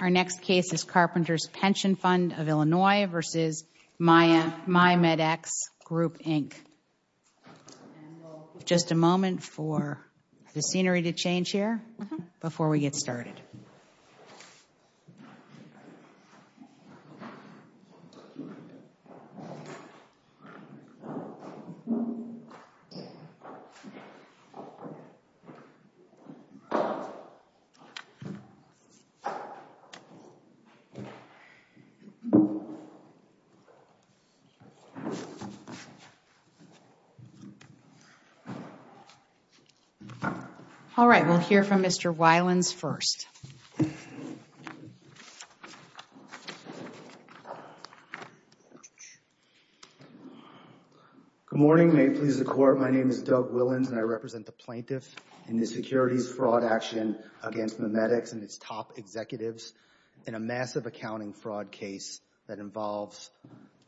Our next case is Carpenters Pension Fund of Illinois v. MidMedx Group, Inc. Just a moment for the scenery to change here before we get started. All right, we'll hear from Mr. Wylens first. Good morning. May it please the Court, my name is Doug Wylens and I represent the plaintiff in the securities fraud action against MidMedx and its top executives in a massive accounting fraud case that involves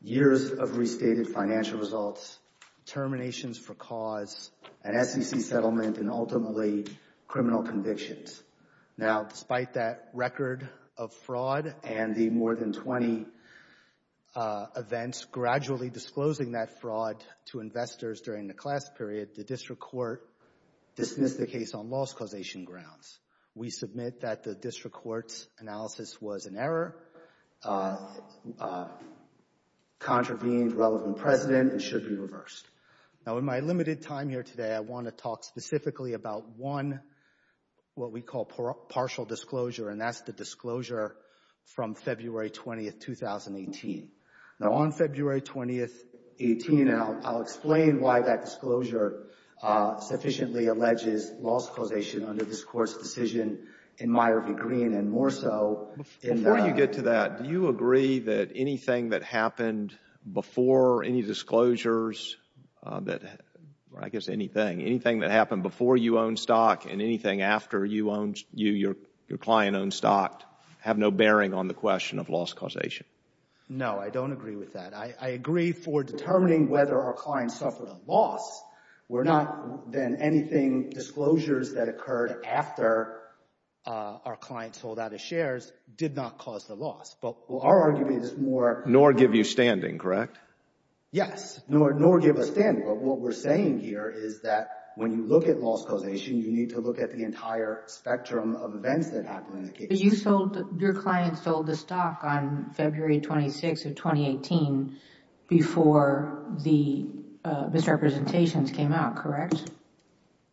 years of restated financial results, terminations for cause, an SEC settlement, and ultimately criminal convictions. Now, despite that record of fraud and the more than 20 events gradually disclosing that fraud to investors during the class period, the District Court dismissed the case on loss causation grounds. We submit that the District Court's analysis was an error, contravened relevant precedent, and should be reversed. Now, in my limited time here today, I want to talk specifically about one, what we call partial disclosure, and that's the disclosure from February 20, 2018. Now, on February 20, 2018, I'll explain why that disclosure sufficiently alleges loss causation under this Court's decision in Meyer v. Green and more so in the— I guess anything, anything that happened before you owned stock and anything after you owned, your client owned stock have no bearing on the question of loss causation. No, I don't agree with that. I agree for determining whether our client suffered a loss were not, then, anything, disclosures that occurred after our client sold out his shares did not cause the loss. But our argument is more— Nor give you standing, correct? Yes, nor give a standing, but what we're saying here is that when you look at loss causation, you need to look at the entire spectrum of events that happened in the case. But you sold, your client sold the stock on February 26 of 2018 before the misrepresentations came out, correct?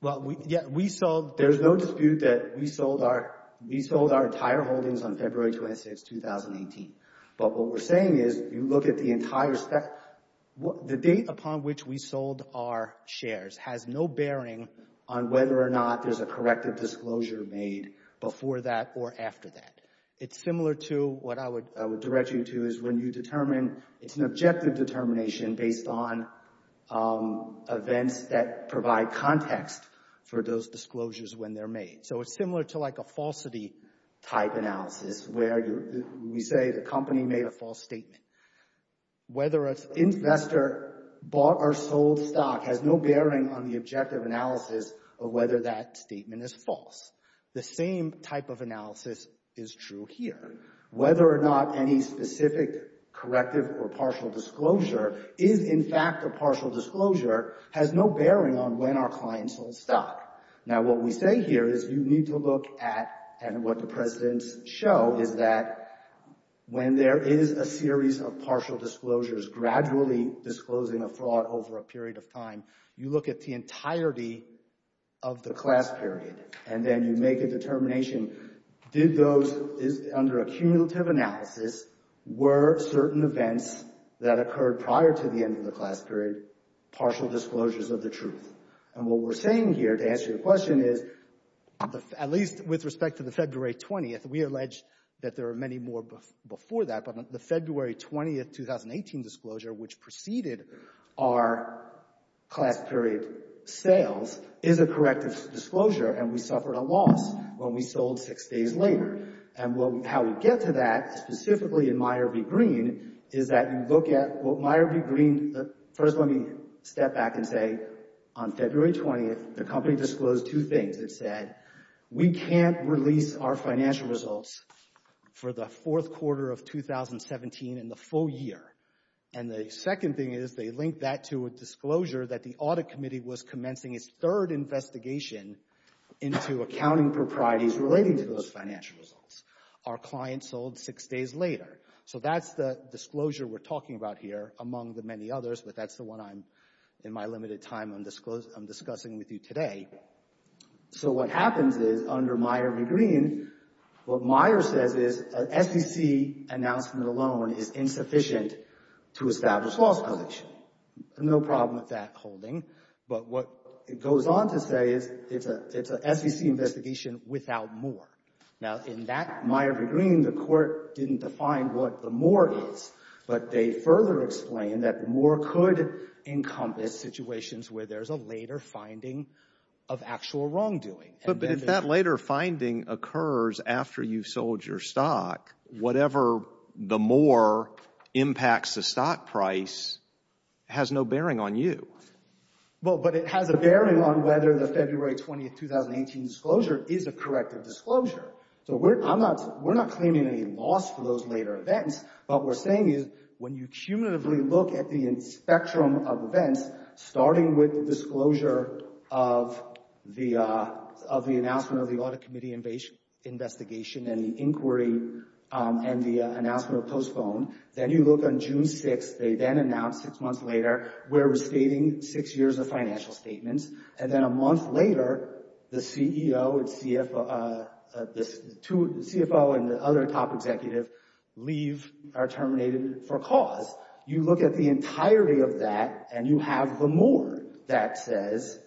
Well, yeah, we sold— There's no dispute that we sold our entire holdings on February 26, 2018. But what we're saying is you look at the entire—the date upon which we sold our shares has no bearing on whether or not there's a corrective disclosure made before that or after that. It's similar to what I would direct you to is when you determine—it's an objective determination based on events that provide context for those disclosures when they're made. So it's similar to like a falsity type analysis where we say the company made a false statement. Whether an investor bought or sold stock has no bearing on the objective analysis of whether that statement is false. The same type of analysis is true here. Whether or not any specific corrective or partial disclosure is in fact a partial disclosure has no bearing on when our client sold stock. Now, what we say here is you need to look at—and what the precedents show is that when there is a series of partial disclosures gradually disclosing a fraud over a period of time, you look at the entirety of the class period. And then you make a determination, did those—under a cumulative analysis, were certain events that occurred prior to the end of the class period partial disclosures of the truth? And what we're saying here to answer your question is, at least with respect to the February 20th, we allege that there are many more before that. But the February 20th, 2018 disclosure, which preceded our class period sales, is a corrective disclosure and we suffered a loss when we sold six days later. And how we get to that, specifically in Meyer v. Green, is that you look at what Meyer v. Green—first let me step back and say on February 20th, the company disclosed two things. It said, we can't release our financial results for the fourth quarter of 2017 in the full year. And the second thing is they linked that to a disclosure that the Audit Committee was commencing its third investigation into accounting proprieties relating to those financial results. Our client sold six days later. So that's the disclosure we're talking about here, among the many others, but that's the one I'm, in my limited time, I'm discussing with you today. So what happens is, under Meyer v. Green, what Meyer says is an SEC announcement alone is insufficient to establish false allegations. No problem with that holding. But what it goes on to say is it's an SEC investigation without more. Now, in that Meyer v. Green, the court didn't define what the more is, but they further explain that more could encompass situations where there's a later finding of actual wrongdoing. But if that later finding occurs after you've sold your stock, whatever the more impacts the stock price has no bearing on you. Well, but it has a bearing on whether the February 20, 2018 disclosure is a corrective disclosure. So we're, I'm not, we're not claiming any loss for those later events. What we're saying is when you cumulatively look at the spectrum of events, starting with the disclosure of the, of the announcement of the Audit Committee investigation and inquiry and the announcement of postponed, then you look on June 6, they then announce six months later, we're restating six years of financial statements. And then a month later, the CEO and CFO, the two, the CFO and the other top executive leave, are terminated for cause. You look at the entirety of that and you have the more that says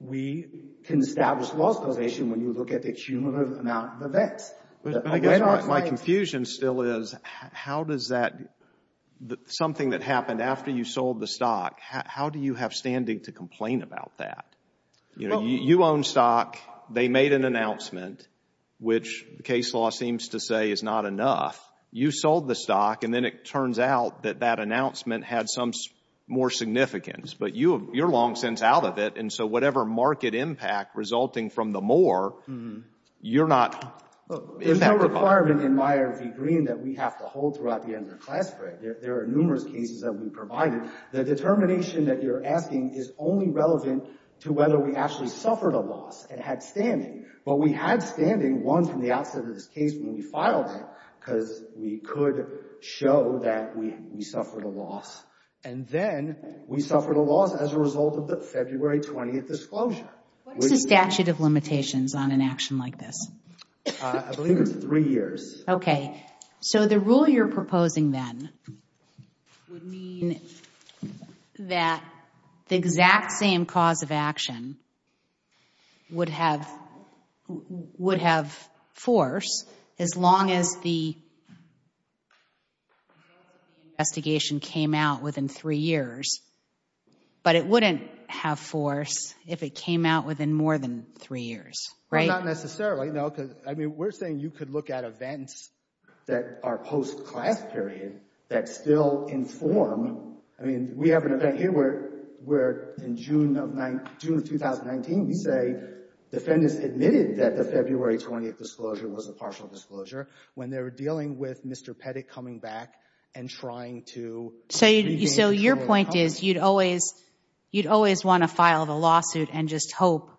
we can establish loss causation when you look at the cumulative amount of events. My confusion still is how does that, something that happened after you sold the stock, how do you have standing to complain about that? You own stock, they made an announcement, which the case law seems to say is not enough. You sold the stock and then it turns out that that announcement had some more significance. But you, you're long since out of it, and so whatever market impact resulting from the more, you're not. There's no requirement in Meyer v. Green that we have to hold throughout the end of the class break. There are numerous cases that we provided. The determination that you're asking is only relevant to whether we actually suffered a loss and had standing. But we had standing, one, from the outset of this case when we filed it because we could show that we suffered a loss. And then we suffered a loss as a result of the February 20th disclosure. What is the statute of limitations on an action like this? I believe it's three years. So the rule you're proposing then would mean that the exact same cause of action would have force as long as the investigation came out within three years. But it wouldn't have force if it came out within more than three years, right? Not necessarily, no, because, I mean, we're saying you could look at events that are post-class period that still inform. I mean, we have an event here where, in June of 2019, we say defendants admitted that the February 20th disclosure was a partial disclosure when they were dealing with Mr. Pettit coming back and trying to— So your point is you'd always want to file the lawsuit and just hope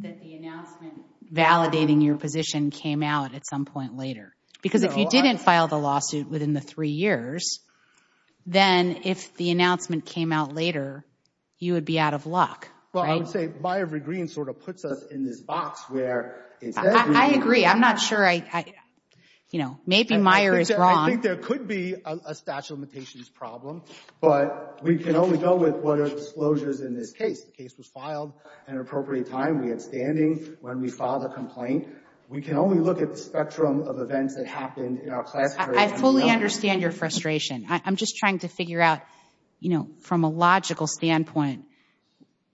that the announcement validating your position came out at some point later. Because if you didn't file the lawsuit within the three years, then if the announcement came out later, you would be out of luck, right? Well, I would say Meijer-Green sort of puts us in this box where instead of— I agree. I'm not sure. Maybe Meijer is wrong. I think there could be a statute of limitations problem, but we can only go with what are disclosures in this case. The case was filed at an appropriate time. We had standing when we filed the complaint. We can only look at the spectrum of events that happened in our class period. I fully understand your frustration. I'm just trying to figure out, you know, from a logical standpoint,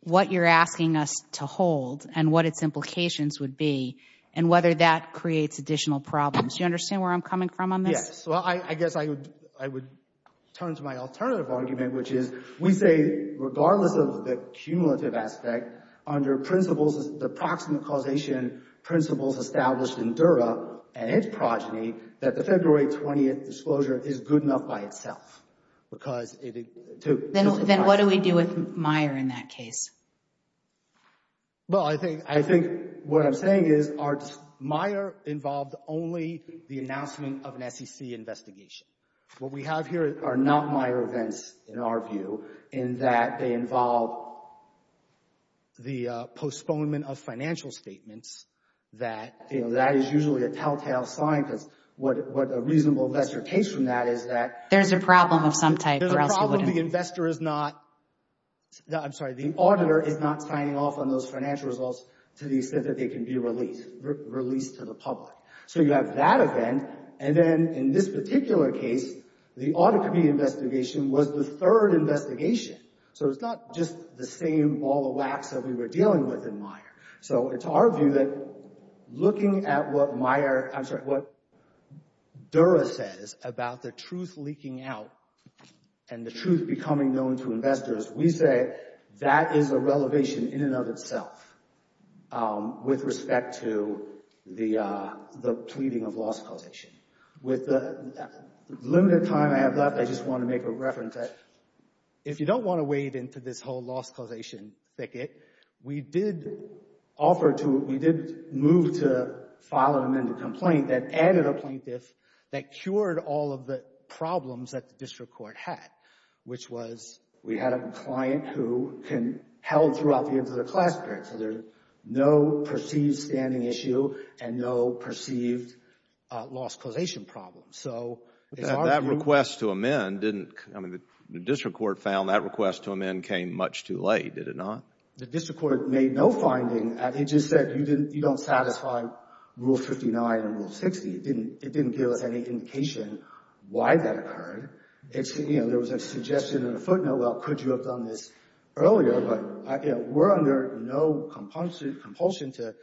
what you're asking us to hold and what its implications would be and whether that creates additional problems. Do you understand where I'm coming from on this? Yes. Well, I guess I would turn to my alternative argument, which is we say regardless of the cumulative aspect, under the proximate causation principles established in Dura and its progeny, that the February 20th disclosure is good enough by itself. Then what do we do with Meijer in that case? Well, I think what I'm saying is Meijer involved only the announcement of an SEC investigation. What we have here are not Meijer events, in our view, in that they involve the postponement of financial statements. That is usually a telltale sign because what a reasonable investor takes from that is that— There's a problem of some type, or else you wouldn't— No, I'm sorry. The auditor is not signing off on those financial results to the extent that they can be released to the public. So you have that event, and then in this particular case, the audit committee investigation was the third investigation. So it's not just the same ball of wax that we were dealing with in Meijer. So it's our view that looking at what Dura says about the truth leaking out and the truth becoming known to investors, we say that is a relevation in and of itself with respect to the pleading of loss causation. With the limited time I have left, I just want to make a reference that— this whole loss causation thicket. We did offer to—we did move to file an amended complaint that added a plaintiff that cured all of the problems that the district court had, which was— We had a client who held throughout the end of the class period. So there's no perceived standing issue and no perceived loss causation problem. So it's our view— But that request to amend didn't—I mean, the district court found that request to amend came much too late, did it not? The district court made no finding. It just said you don't satisfy Rule 59 and Rule 60. It didn't give us any indication why that occurred. You know, there was a suggestion in the footnote, well, could you have done this earlier? We're under no compulsion to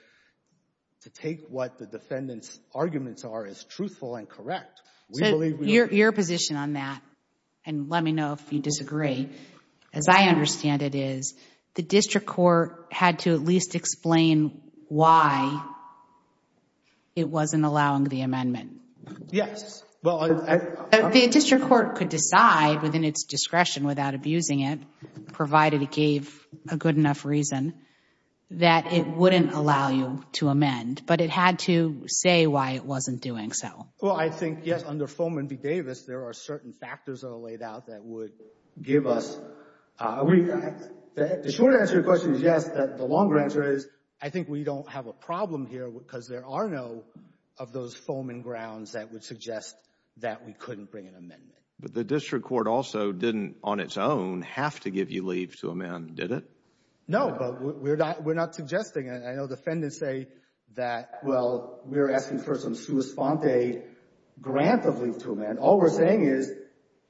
take what the defendant's arguments are as truthful and correct. So your position on that, and let me know if you disagree, as I understand it, is the district court had to at least explain why it wasn't allowing the amendment. Yes. The district court could decide within its discretion without abusing it, provided it gave a good enough reason, that it wouldn't allow you to amend. But it had to say why it wasn't doing so. Well, I think, yes, under Fohman v. Davis, there are certain factors that are laid out that would give us— The short answer to your question is yes. The longer answer is I think we don't have a problem here because there are no—of those Fohman grounds that would suggest that we couldn't bring an amendment. But the district court also didn't, on its own, have to give you leave to amend, did it? No, but we're not suggesting. I know defendants say that, well, we're asking for some sua sponte grant of leave to amend. All we're saying is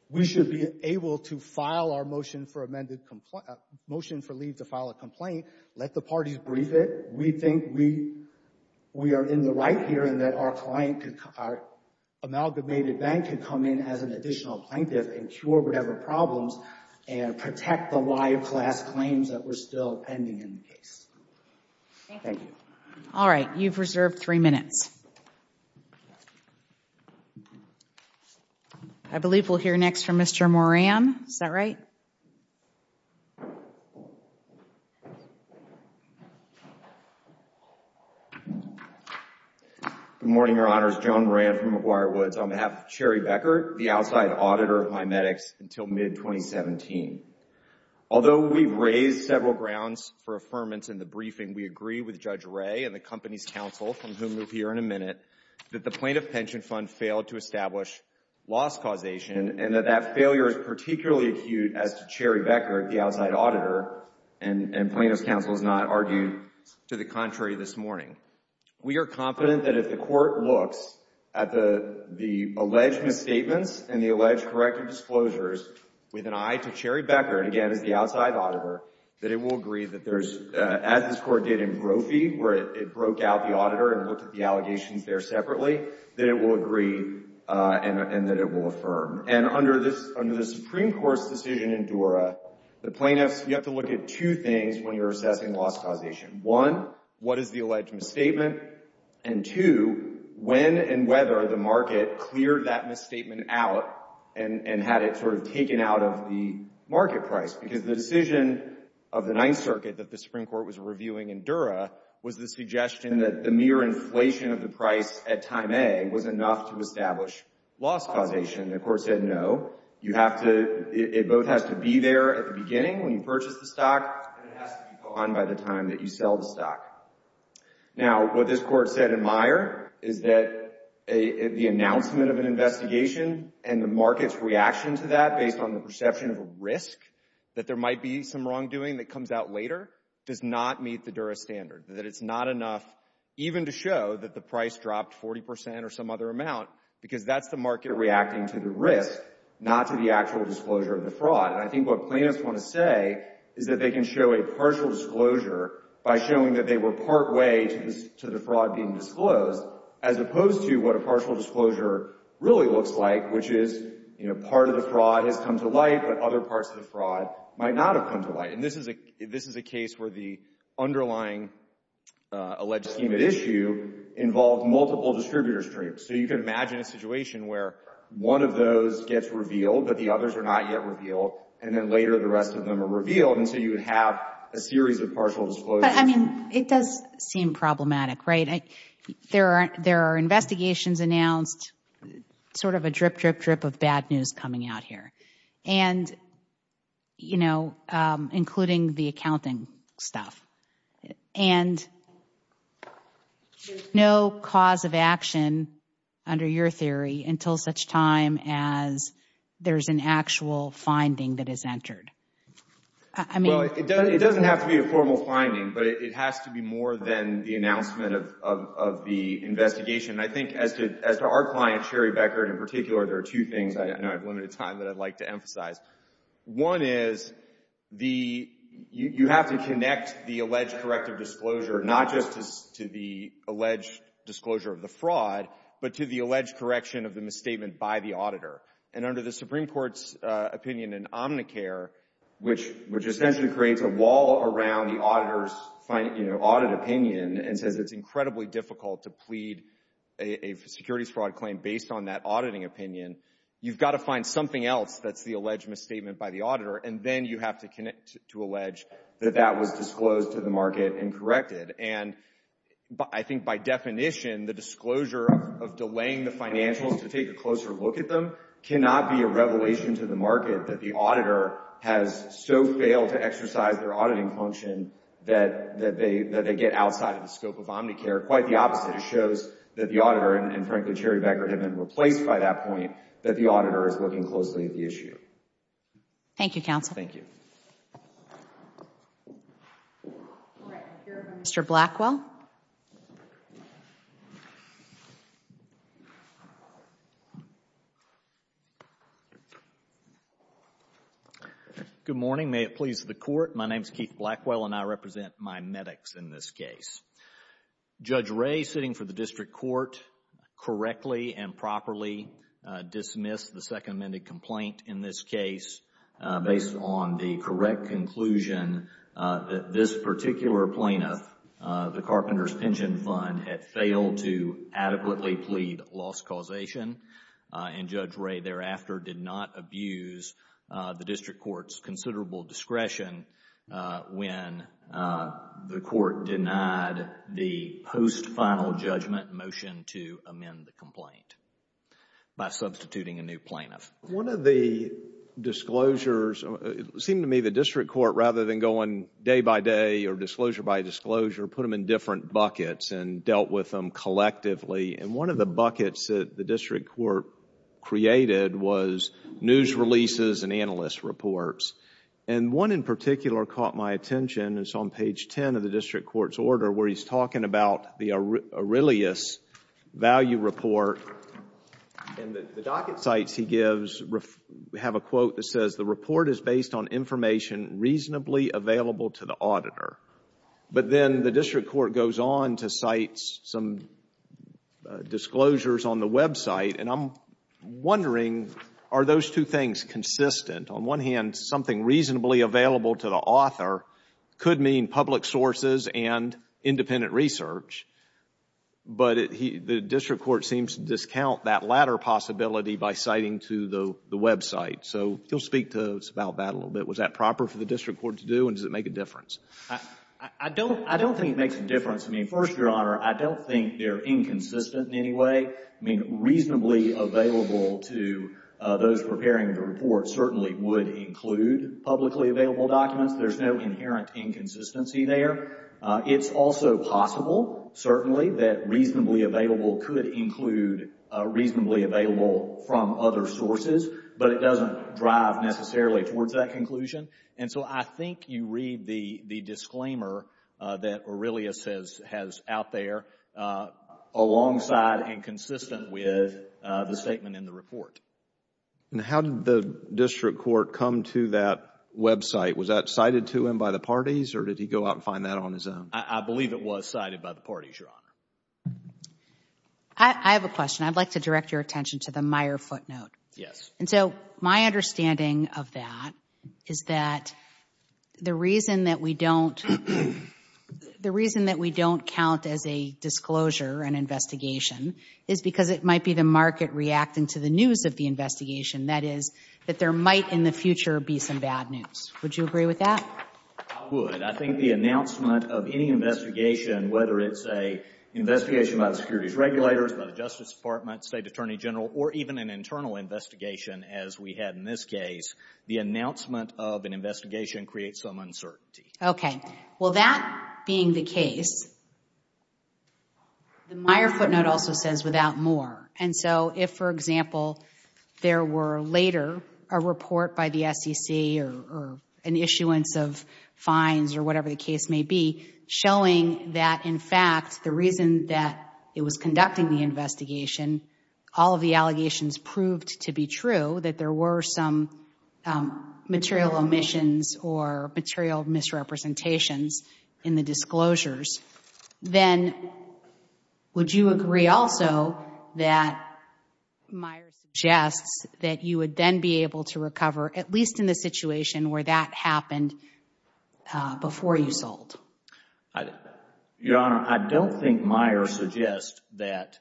we should be able to file our motion for amended—motion for leave to file a complaint. Let the parties brief it. We think we are in the right here and that our client could—our amalgamated bank could come in as an additional plaintiff and cure whatever problems and protect the live class claims that were still pending in the case. Thank you. All right. You've reserved three minutes. I believe we'll hear next from Mr. Moran. Is that right? Good morning, Your Honors. Joan Moran from McGuire Woods on behalf of Cherry Becker, the outside auditor of MiMedx until mid-2017. Although we've raised several grounds for affirmance in the briefing, we agree with Judge Ray and the company's counsel, from whom we'll hear in a minute, that the plaintiff pension fund failed to establish loss causation and that that failure is particularly acute as to Cherry Becker, the outside auditor, and plaintiff's counsel has not argued to the contrary this morning. We are confident that if the court looks at the alleged misstatements and the alleged corrective disclosures with an eye to Cherry Becker, again, as the outside auditor, that it will agree that there's—as this court did in Grophy, where it broke out the auditor and looked at the allegations there separately, that it will agree and that it will affirm. And under the Supreme Court's decision in Dura, the plaintiffs—you have to look at two things when you're assessing loss causation. One, what is the alleged misstatement? And two, when and whether the market cleared that misstatement out and had it sort of taken out of the market price, because the decision of the Ninth Circuit that the Supreme Court was reviewing in Dura was the suggestion that the mere inflation of the price at time A was enough to establish loss causation. The court said no. You have to—it both has to be there at the beginning when you purchase the stock, and it has to be gone by the time that you sell the stock. Now, what this court said in Meyer is that the announcement of an investigation and the market's reaction to that based on the perception of risk, that there might be some wrongdoing that comes out later, does not meet the Dura standard, that it's not enough even to show that the price dropped 40 percent or some other amount, because that's the market reacting to the risk, not to the actual disclosure of the fraud. And I think what plaintiffs want to say is that they can show a partial disclosure by showing that they were partway to the fraud being disclosed, as opposed to what a partial disclosure really looks like, which is, you know, part of the fraud has come to light, but other parts of the fraud might not have come to light. And this is a case where the underlying alleged scheme at issue involved multiple distributor streams. So you can imagine a situation where one of those gets revealed, but the others are not yet revealed, and then later the rest of them are revealed, and so you have a series of partial disclosures. But, I mean, it does seem problematic, right? There are investigations announced, sort of a drip, drip, drip of bad news coming out here. And, you know, including the accounting stuff. And there's no cause of action, under your theory, until such time as there's an actual finding that is entered. Well, it doesn't have to be a formal finding, but it has to be more than the announcement of the investigation. I think, as to our client, Sherry Beckert, in particular, there are two things I know I've limited time that I'd like to emphasize. One is, you have to connect the alleged corrective disclosure not just to the alleged disclosure of the fraud, but to the alleged correction of the misstatement by the auditor. And under the Supreme Court's opinion in Omnicare, which essentially creates a wall around the auditor's audit opinion and says it's incredibly difficult to plead a securities fraud claim based on that auditing opinion, you've got to find something else that's the alleged misstatement by the auditor, and then you have to connect to allege that that was disclosed to the market and corrected. And I think, by definition, the disclosure of delaying the financials to take a closer look at them cannot be a revelation to the market that the auditor has so failed to exercise their auditing function that they get outside of the scope of Omnicare. Quite the opposite. It shows that the auditor, and frankly Sherry Beckert had been replaced by that point, that the auditor is looking closely at the issue. Thank you, counsel. Thank you. Mr. Blackwell. Good morning. May it please the Court. My name is Keith Blackwell, and I represent my medics in this case. Judge Wray, sitting for the district court, correctly and properly dismissed the second amended complaint in this case based on the correct conclusion that this particular plaintiff, the Carpenters Pension Fund, had failed to adequately plead loss causation. And Judge Wray thereafter did not abuse the district court's considerable discretion when the court denied the post-final judgment motion to amend the complaint by substituting a new plaintiff. One of the disclosures, it seemed to me the district court, rather than going day by day or disclosure by disclosure, put them in different buckets and dealt with them collectively. And one of the buckets that the district court created was news releases and analyst reports. And one in particular caught my attention. It's on page 10 of the district court's order where he's talking about the Aurelius value report. And the docket sites he gives have a quote that says, the report is based on information reasonably available to the auditor. But then the district court goes on to cite some disclosures on the website. And I'm wondering, are those two things consistent? On one hand, something reasonably available to the author could mean public sources and independent research. But the district court seems to discount that latter possibility by citing to the website. So he'll speak to us about that a little bit. Was that proper for the district court to do, and does it make a difference? I don't think it makes a difference. I mean, first, Your Honor, I don't think they're inconsistent in any way. I mean, reasonably available to those preparing the report certainly would include publicly available documents. There's no inherent inconsistency there. It's also possible, certainly, that reasonably available could include reasonably available from other sources. But it doesn't drive necessarily towards that conclusion. And so I think you read the disclaimer that Aurelius has out there alongside and consistent with the statement in the report. And how did the district court come to that website? Was that cited to him by the parties, or did he go out and find that on his own? I believe it was cited by the parties, Your Honor. I have a question. I'd like to direct your attention to the Meyer footnote. Yes. And so my understanding of that is that the reason that we don't count as a disclosure, an investigation, is because it might be the market reacting to the news of the investigation. That is, that there might in the future be some bad news. Would you agree with that? I would. I think the announcement of any investigation, whether it's an investigation by the securities regulators, by the Justice Department, State Attorney General, or even an internal investigation as we had in this case, the announcement of an investigation creates some uncertainty. Okay. Well, that being the case, the Meyer footnote also says without more. And so if, for example, there were later a report by the SEC or an issuance of fines or whatever the case may be, showing that, in fact, the reason that it was conducting the investigation, all of the allegations proved to be true, that there were some material omissions or material misrepresentations in the disclosures, then would you agree also that Meyer suggests that you would then be able to recover, at least in the situation where that happened before you sold? Your Honor, I don't think Meyer suggests that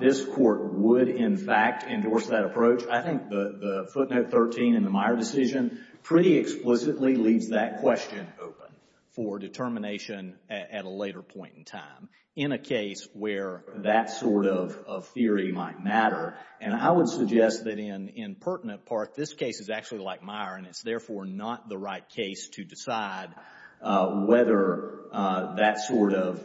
this Court would, in fact, endorse that approach. I think the footnote 13 in the Meyer decision pretty explicitly leaves that question open for determination at a later point in time in a case where that sort of theory might matter. And I would suggest that in pertinent part, this case is actually like Meyer, and it's therefore not the right case to decide whether that sort of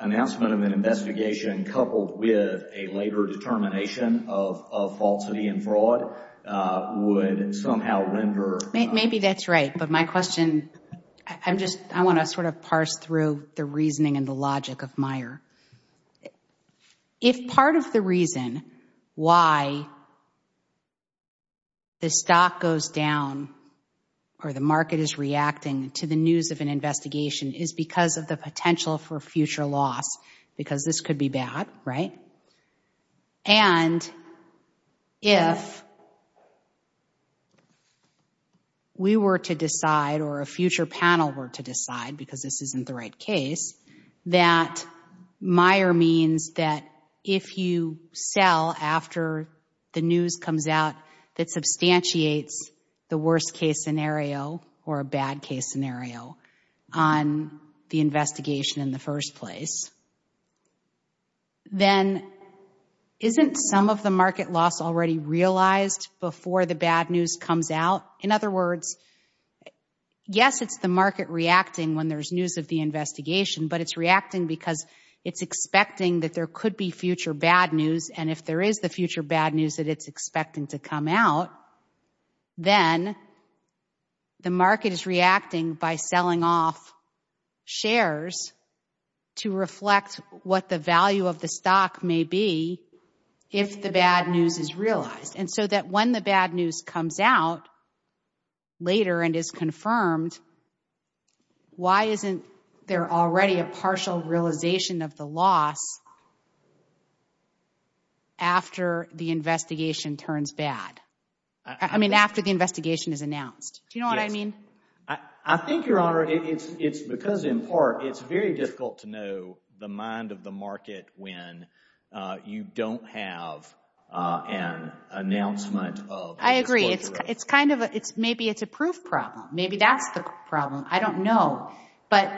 announcement of an investigation coupled with a later determination of falsity and fraud would somehow render. Maybe that's right. But my question, I want to sort of parse through the reasoning and the logic of Meyer. If part of the reason why the stock goes down or the market is reacting to the news of an investigation is because of the potential for future loss, because this could be bad, right? And if we were to decide or a future panel were to decide, because this isn't the right case, that Meyer means that if you sell after the news comes out that substantiates the worst-case scenario or a bad-case scenario on the investigation in the first place, then isn't some of the market loss already realized before the bad news comes out? In other words, yes, it's the market reacting when there's news of the investigation, but it's reacting because it's expecting that there could be future bad news. And if there is the future bad news that it's expecting to come out, then the market is reacting by selling off shares to reflect what the value of the stock may be if the bad news is realized. And so that when the bad news comes out later and is confirmed, why isn't there already a partial realization of the loss after the investigation turns bad? I mean, after the investigation is announced. Do you know what I mean? Yes. I think, Your Honor, it's because, in part, it's very difficult to know the mind of the market when you don't have an announcement of what's going to happen. I agree. Maybe it's a proof problem. Maybe that's the problem. I don't know. But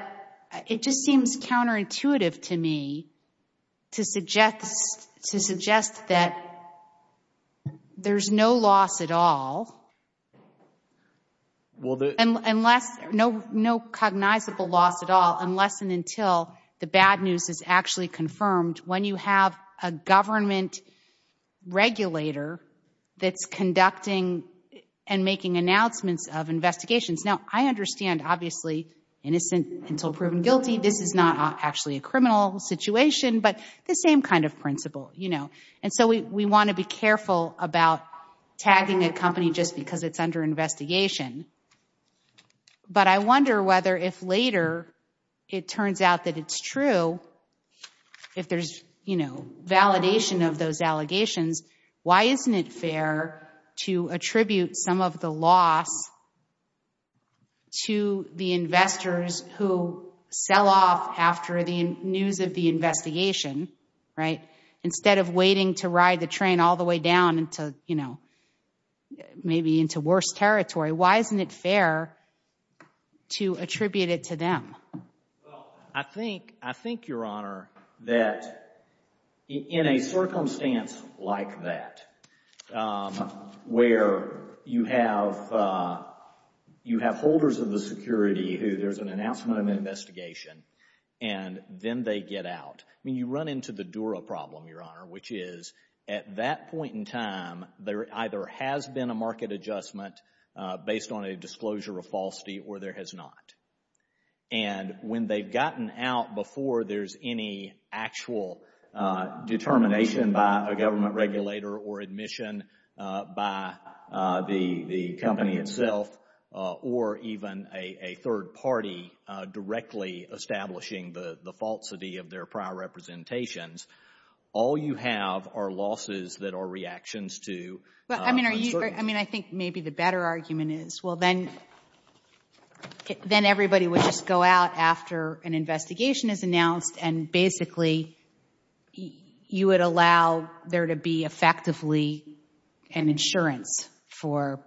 it just seems counterintuitive to me to suggest that there's no loss at all, no cognizable loss at all unless and until the bad news is actually confirmed when you have a government regulator that's conducting and making announcements of investigations. Now, I understand, obviously, innocent until proven guilty. This is not actually a criminal situation, but the same kind of principle. And so we want to be careful about tagging a company just because it's under investigation. But I wonder whether if later it turns out that it's true, if there's validation of those allegations, why isn't it fair to attribute some of the loss to the investors who sell off after the news of the investigation, right, instead of waiting to ride the train all the way down into, you know, maybe into worse territory? Why isn't it fair to attribute it to them? Well, I think, Your Honor, that in a circumstance like that where you have holders of the security who there's an announcement of investigation and then they get out, I mean, you run into the Dura problem, Your Honor, which is at that point in time, there either has been a market adjustment based on a disclosure of falsity or there has not. And when they've gotten out before there's any actual determination by a government regulator or admission by the company itself or even a third party directly establishing the falsity of their prior representations, all you have are losses that are reactions to uncertainty. I mean, I think maybe the better argument is, well, then everybody would just go out after an investigation is announced and basically you would allow there to be effectively an insurance for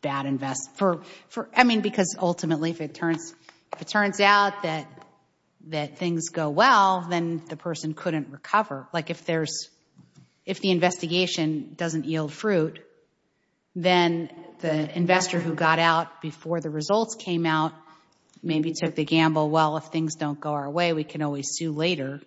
bad invest—I mean, because ultimately if it turns out that things go well, then the person couldn't recover. Like if the investigation doesn't yield fruit, then the investor who got out before the results came out maybe took the gamble, well, if things don't go our way, we can always sue later.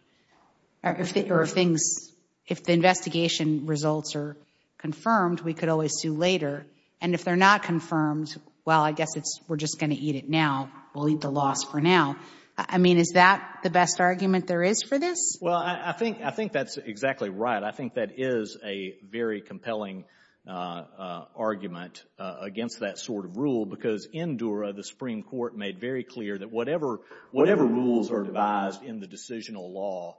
Or if the investigation results are confirmed, we could always sue later. And if they're not confirmed, well, I guess we're just going to eat it now. We'll eat the loss for now. I mean, is that the best argument there is for this? Well, I think that's exactly right. I think that is a very compelling argument against that sort of rule because in Dura, the Supreme Court made very clear that whatever rules are devised in the decisional law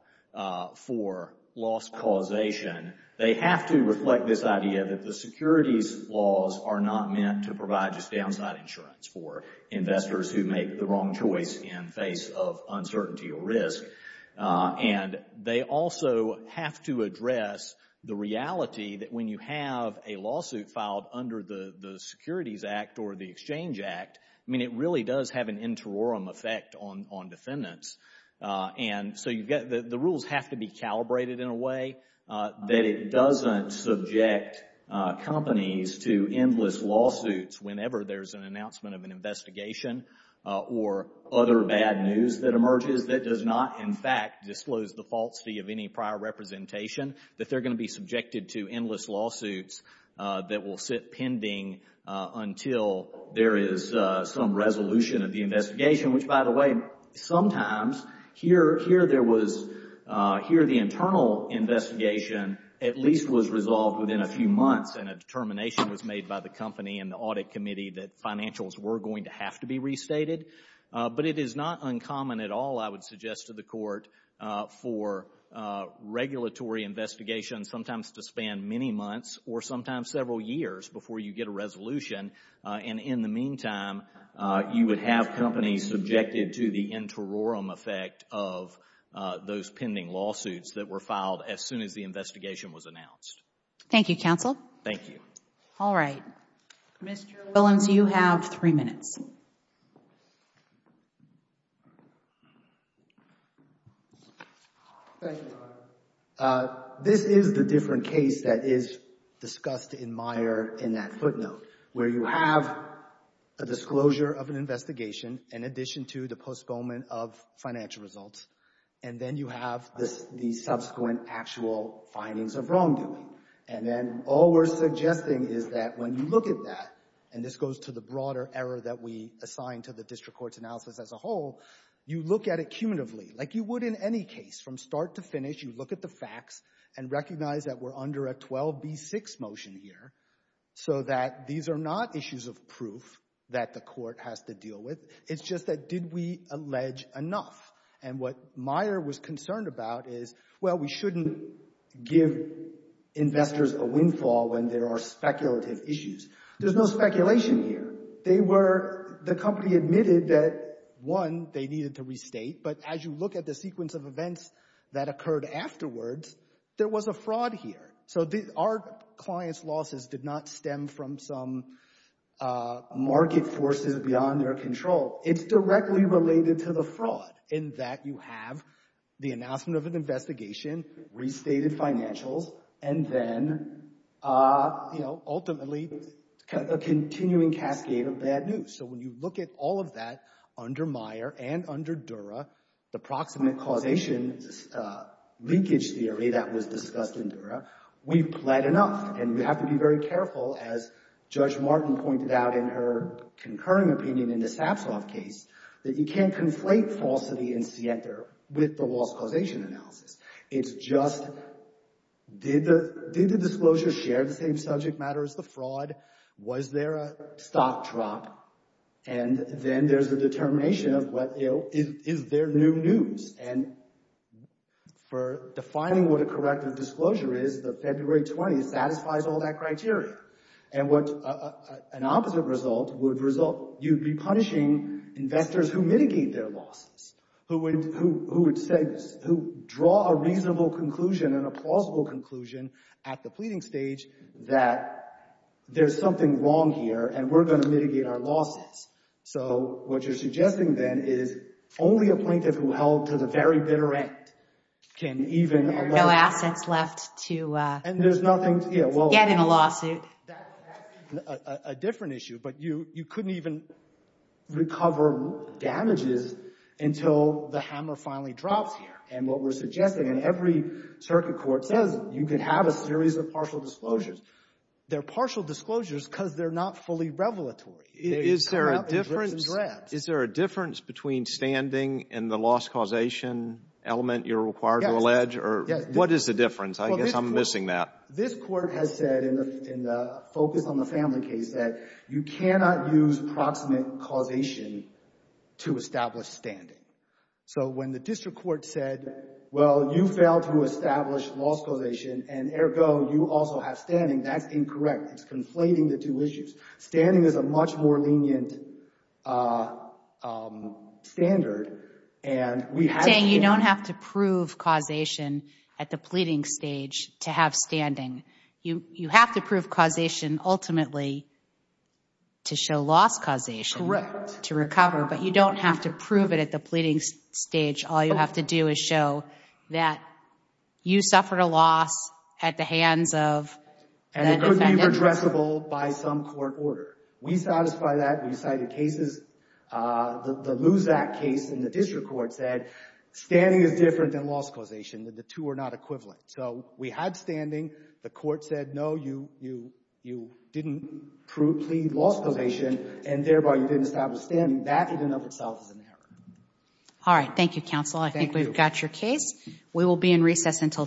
for loss causation, they have to reflect this idea that the securities laws are not meant to provide just downside insurance for investors who make the wrong choice in face of uncertainty or risk. And they also have to address the reality that when you have a lawsuit filed under the Securities Act or the Exchange Act, I mean, it really does have an interim effect on defendants. And so the rules have to be calibrated in a way that it doesn't subject companies to endless lawsuits whenever there's an announcement of an investigation or other bad news that emerges that does not, in fact, disclose the falsity of any prior representation, that they're going to be subjected to endless lawsuits that will sit pending until there is some resolution of the investigation, which, by the way, sometimes here the internal investigation at least was resolved within a few months and a determination was made by the company and the audit committee that financials were going to have to be restated. But it is not uncommon at all, I would suggest to the Court, for regulatory investigations sometimes to span many months or sometimes several years before you get a resolution. And in the meantime, you would have companies subjected to the interim effect of those pending lawsuits that were filed as soon as the investigation was announced. Thank you, counsel. Thank you. All right. Mr. Williams, you have three minutes. Thank you. This is the different case that is discussed in Meyer in that footnote where you have a disclosure of an investigation in addition to the postponement of financial results and then you have the subsequent actual findings of wrongdoing. And then all we're suggesting is that when you look at that, and this goes to the broader error that we assign to the district court's analysis as a whole, you look at it cumulatively. Like you would in any case, from start to finish, you look at the facts and recognize that we're under a 12B6 motion here so that these are not issues of proof that the court has to deal with. It's just that did we allege enough. And what Meyer was concerned about is, well, we shouldn't give investors a windfall when there are speculative issues. There's no speculation here. The company admitted that, one, they needed to restate, but as you look at the sequence of events that occurred afterwards, there was a fraud here. So our clients' losses did not stem from some market forces beyond their control. It's directly related to the fraud in that you have the announcement of an investigation, restated financials, and then ultimately a continuing cascade of bad news. So when you look at all of that under Meyer and under Dura, the proximate causation leakage theory that was discussed in Dura, we've pled enough, and we have to be very careful, as Judge Martin pointed out in her concurring opinion in the Sapsov case, that you can't conflate falsity in SIENTA with the loss causation analysis. It's just did the disclosure share the same subject matter as the fraud? Was there a stock drop? And then there's a determination of is there new news? And for defining what a corrective disclosure is, the February 20th satisfies all that criteria. And what an opposite result would result, you'd be punishing investors who mitigate their losses, who draw a reasonable conclusion and a plausible conclusion at the pleading stage that there's something wrong here, and we're going to mitigate our losses. So what you're suggesting then is only a plaintiff who held to the very bitter end can even— There are no assets left to get in a lawsuit. That's a different issue, but you couldn't even recover damages until the hammer finally drops here. And what we're suggesting, and every circuit court says you can have a series of partial disclosures. They're partial disclosures because they're not fully revelatory. It comes out in drips and drabs. Is there a difference between standing and the loss causation element you're required to allege? Yes. What is the difference? I guess I'm missing that. This Court has said in the focus on the family case that you cannot use proximate causation to establish standing. So when the district court said, well, you failed to establish loss causation and, ergo, you also have standing, that's incorrect. It's conflating the two issues. Standing is a much more lenient standard, and we have— You don't have to prove causation at the pleading stage to have standing. You have to prove causation ultimately to show loss causation to recover, but you don't have to prove it at the pleading stage. All you have to do is show that you suffered a loss at the hands of that defendant. And it could be redressable by some court order. We satisfy that. We cited cases. The Luzak case in the district court said standing is different than loss causation, that the two are not equivalent. So we had standing. The court said, no, you didn't plead loss causation, and thereby you didn't establish standing. That in and of itself is an error. All right. Thank you, counsel. Thank you. I think we've got your case. We will be in recess until tomorrow.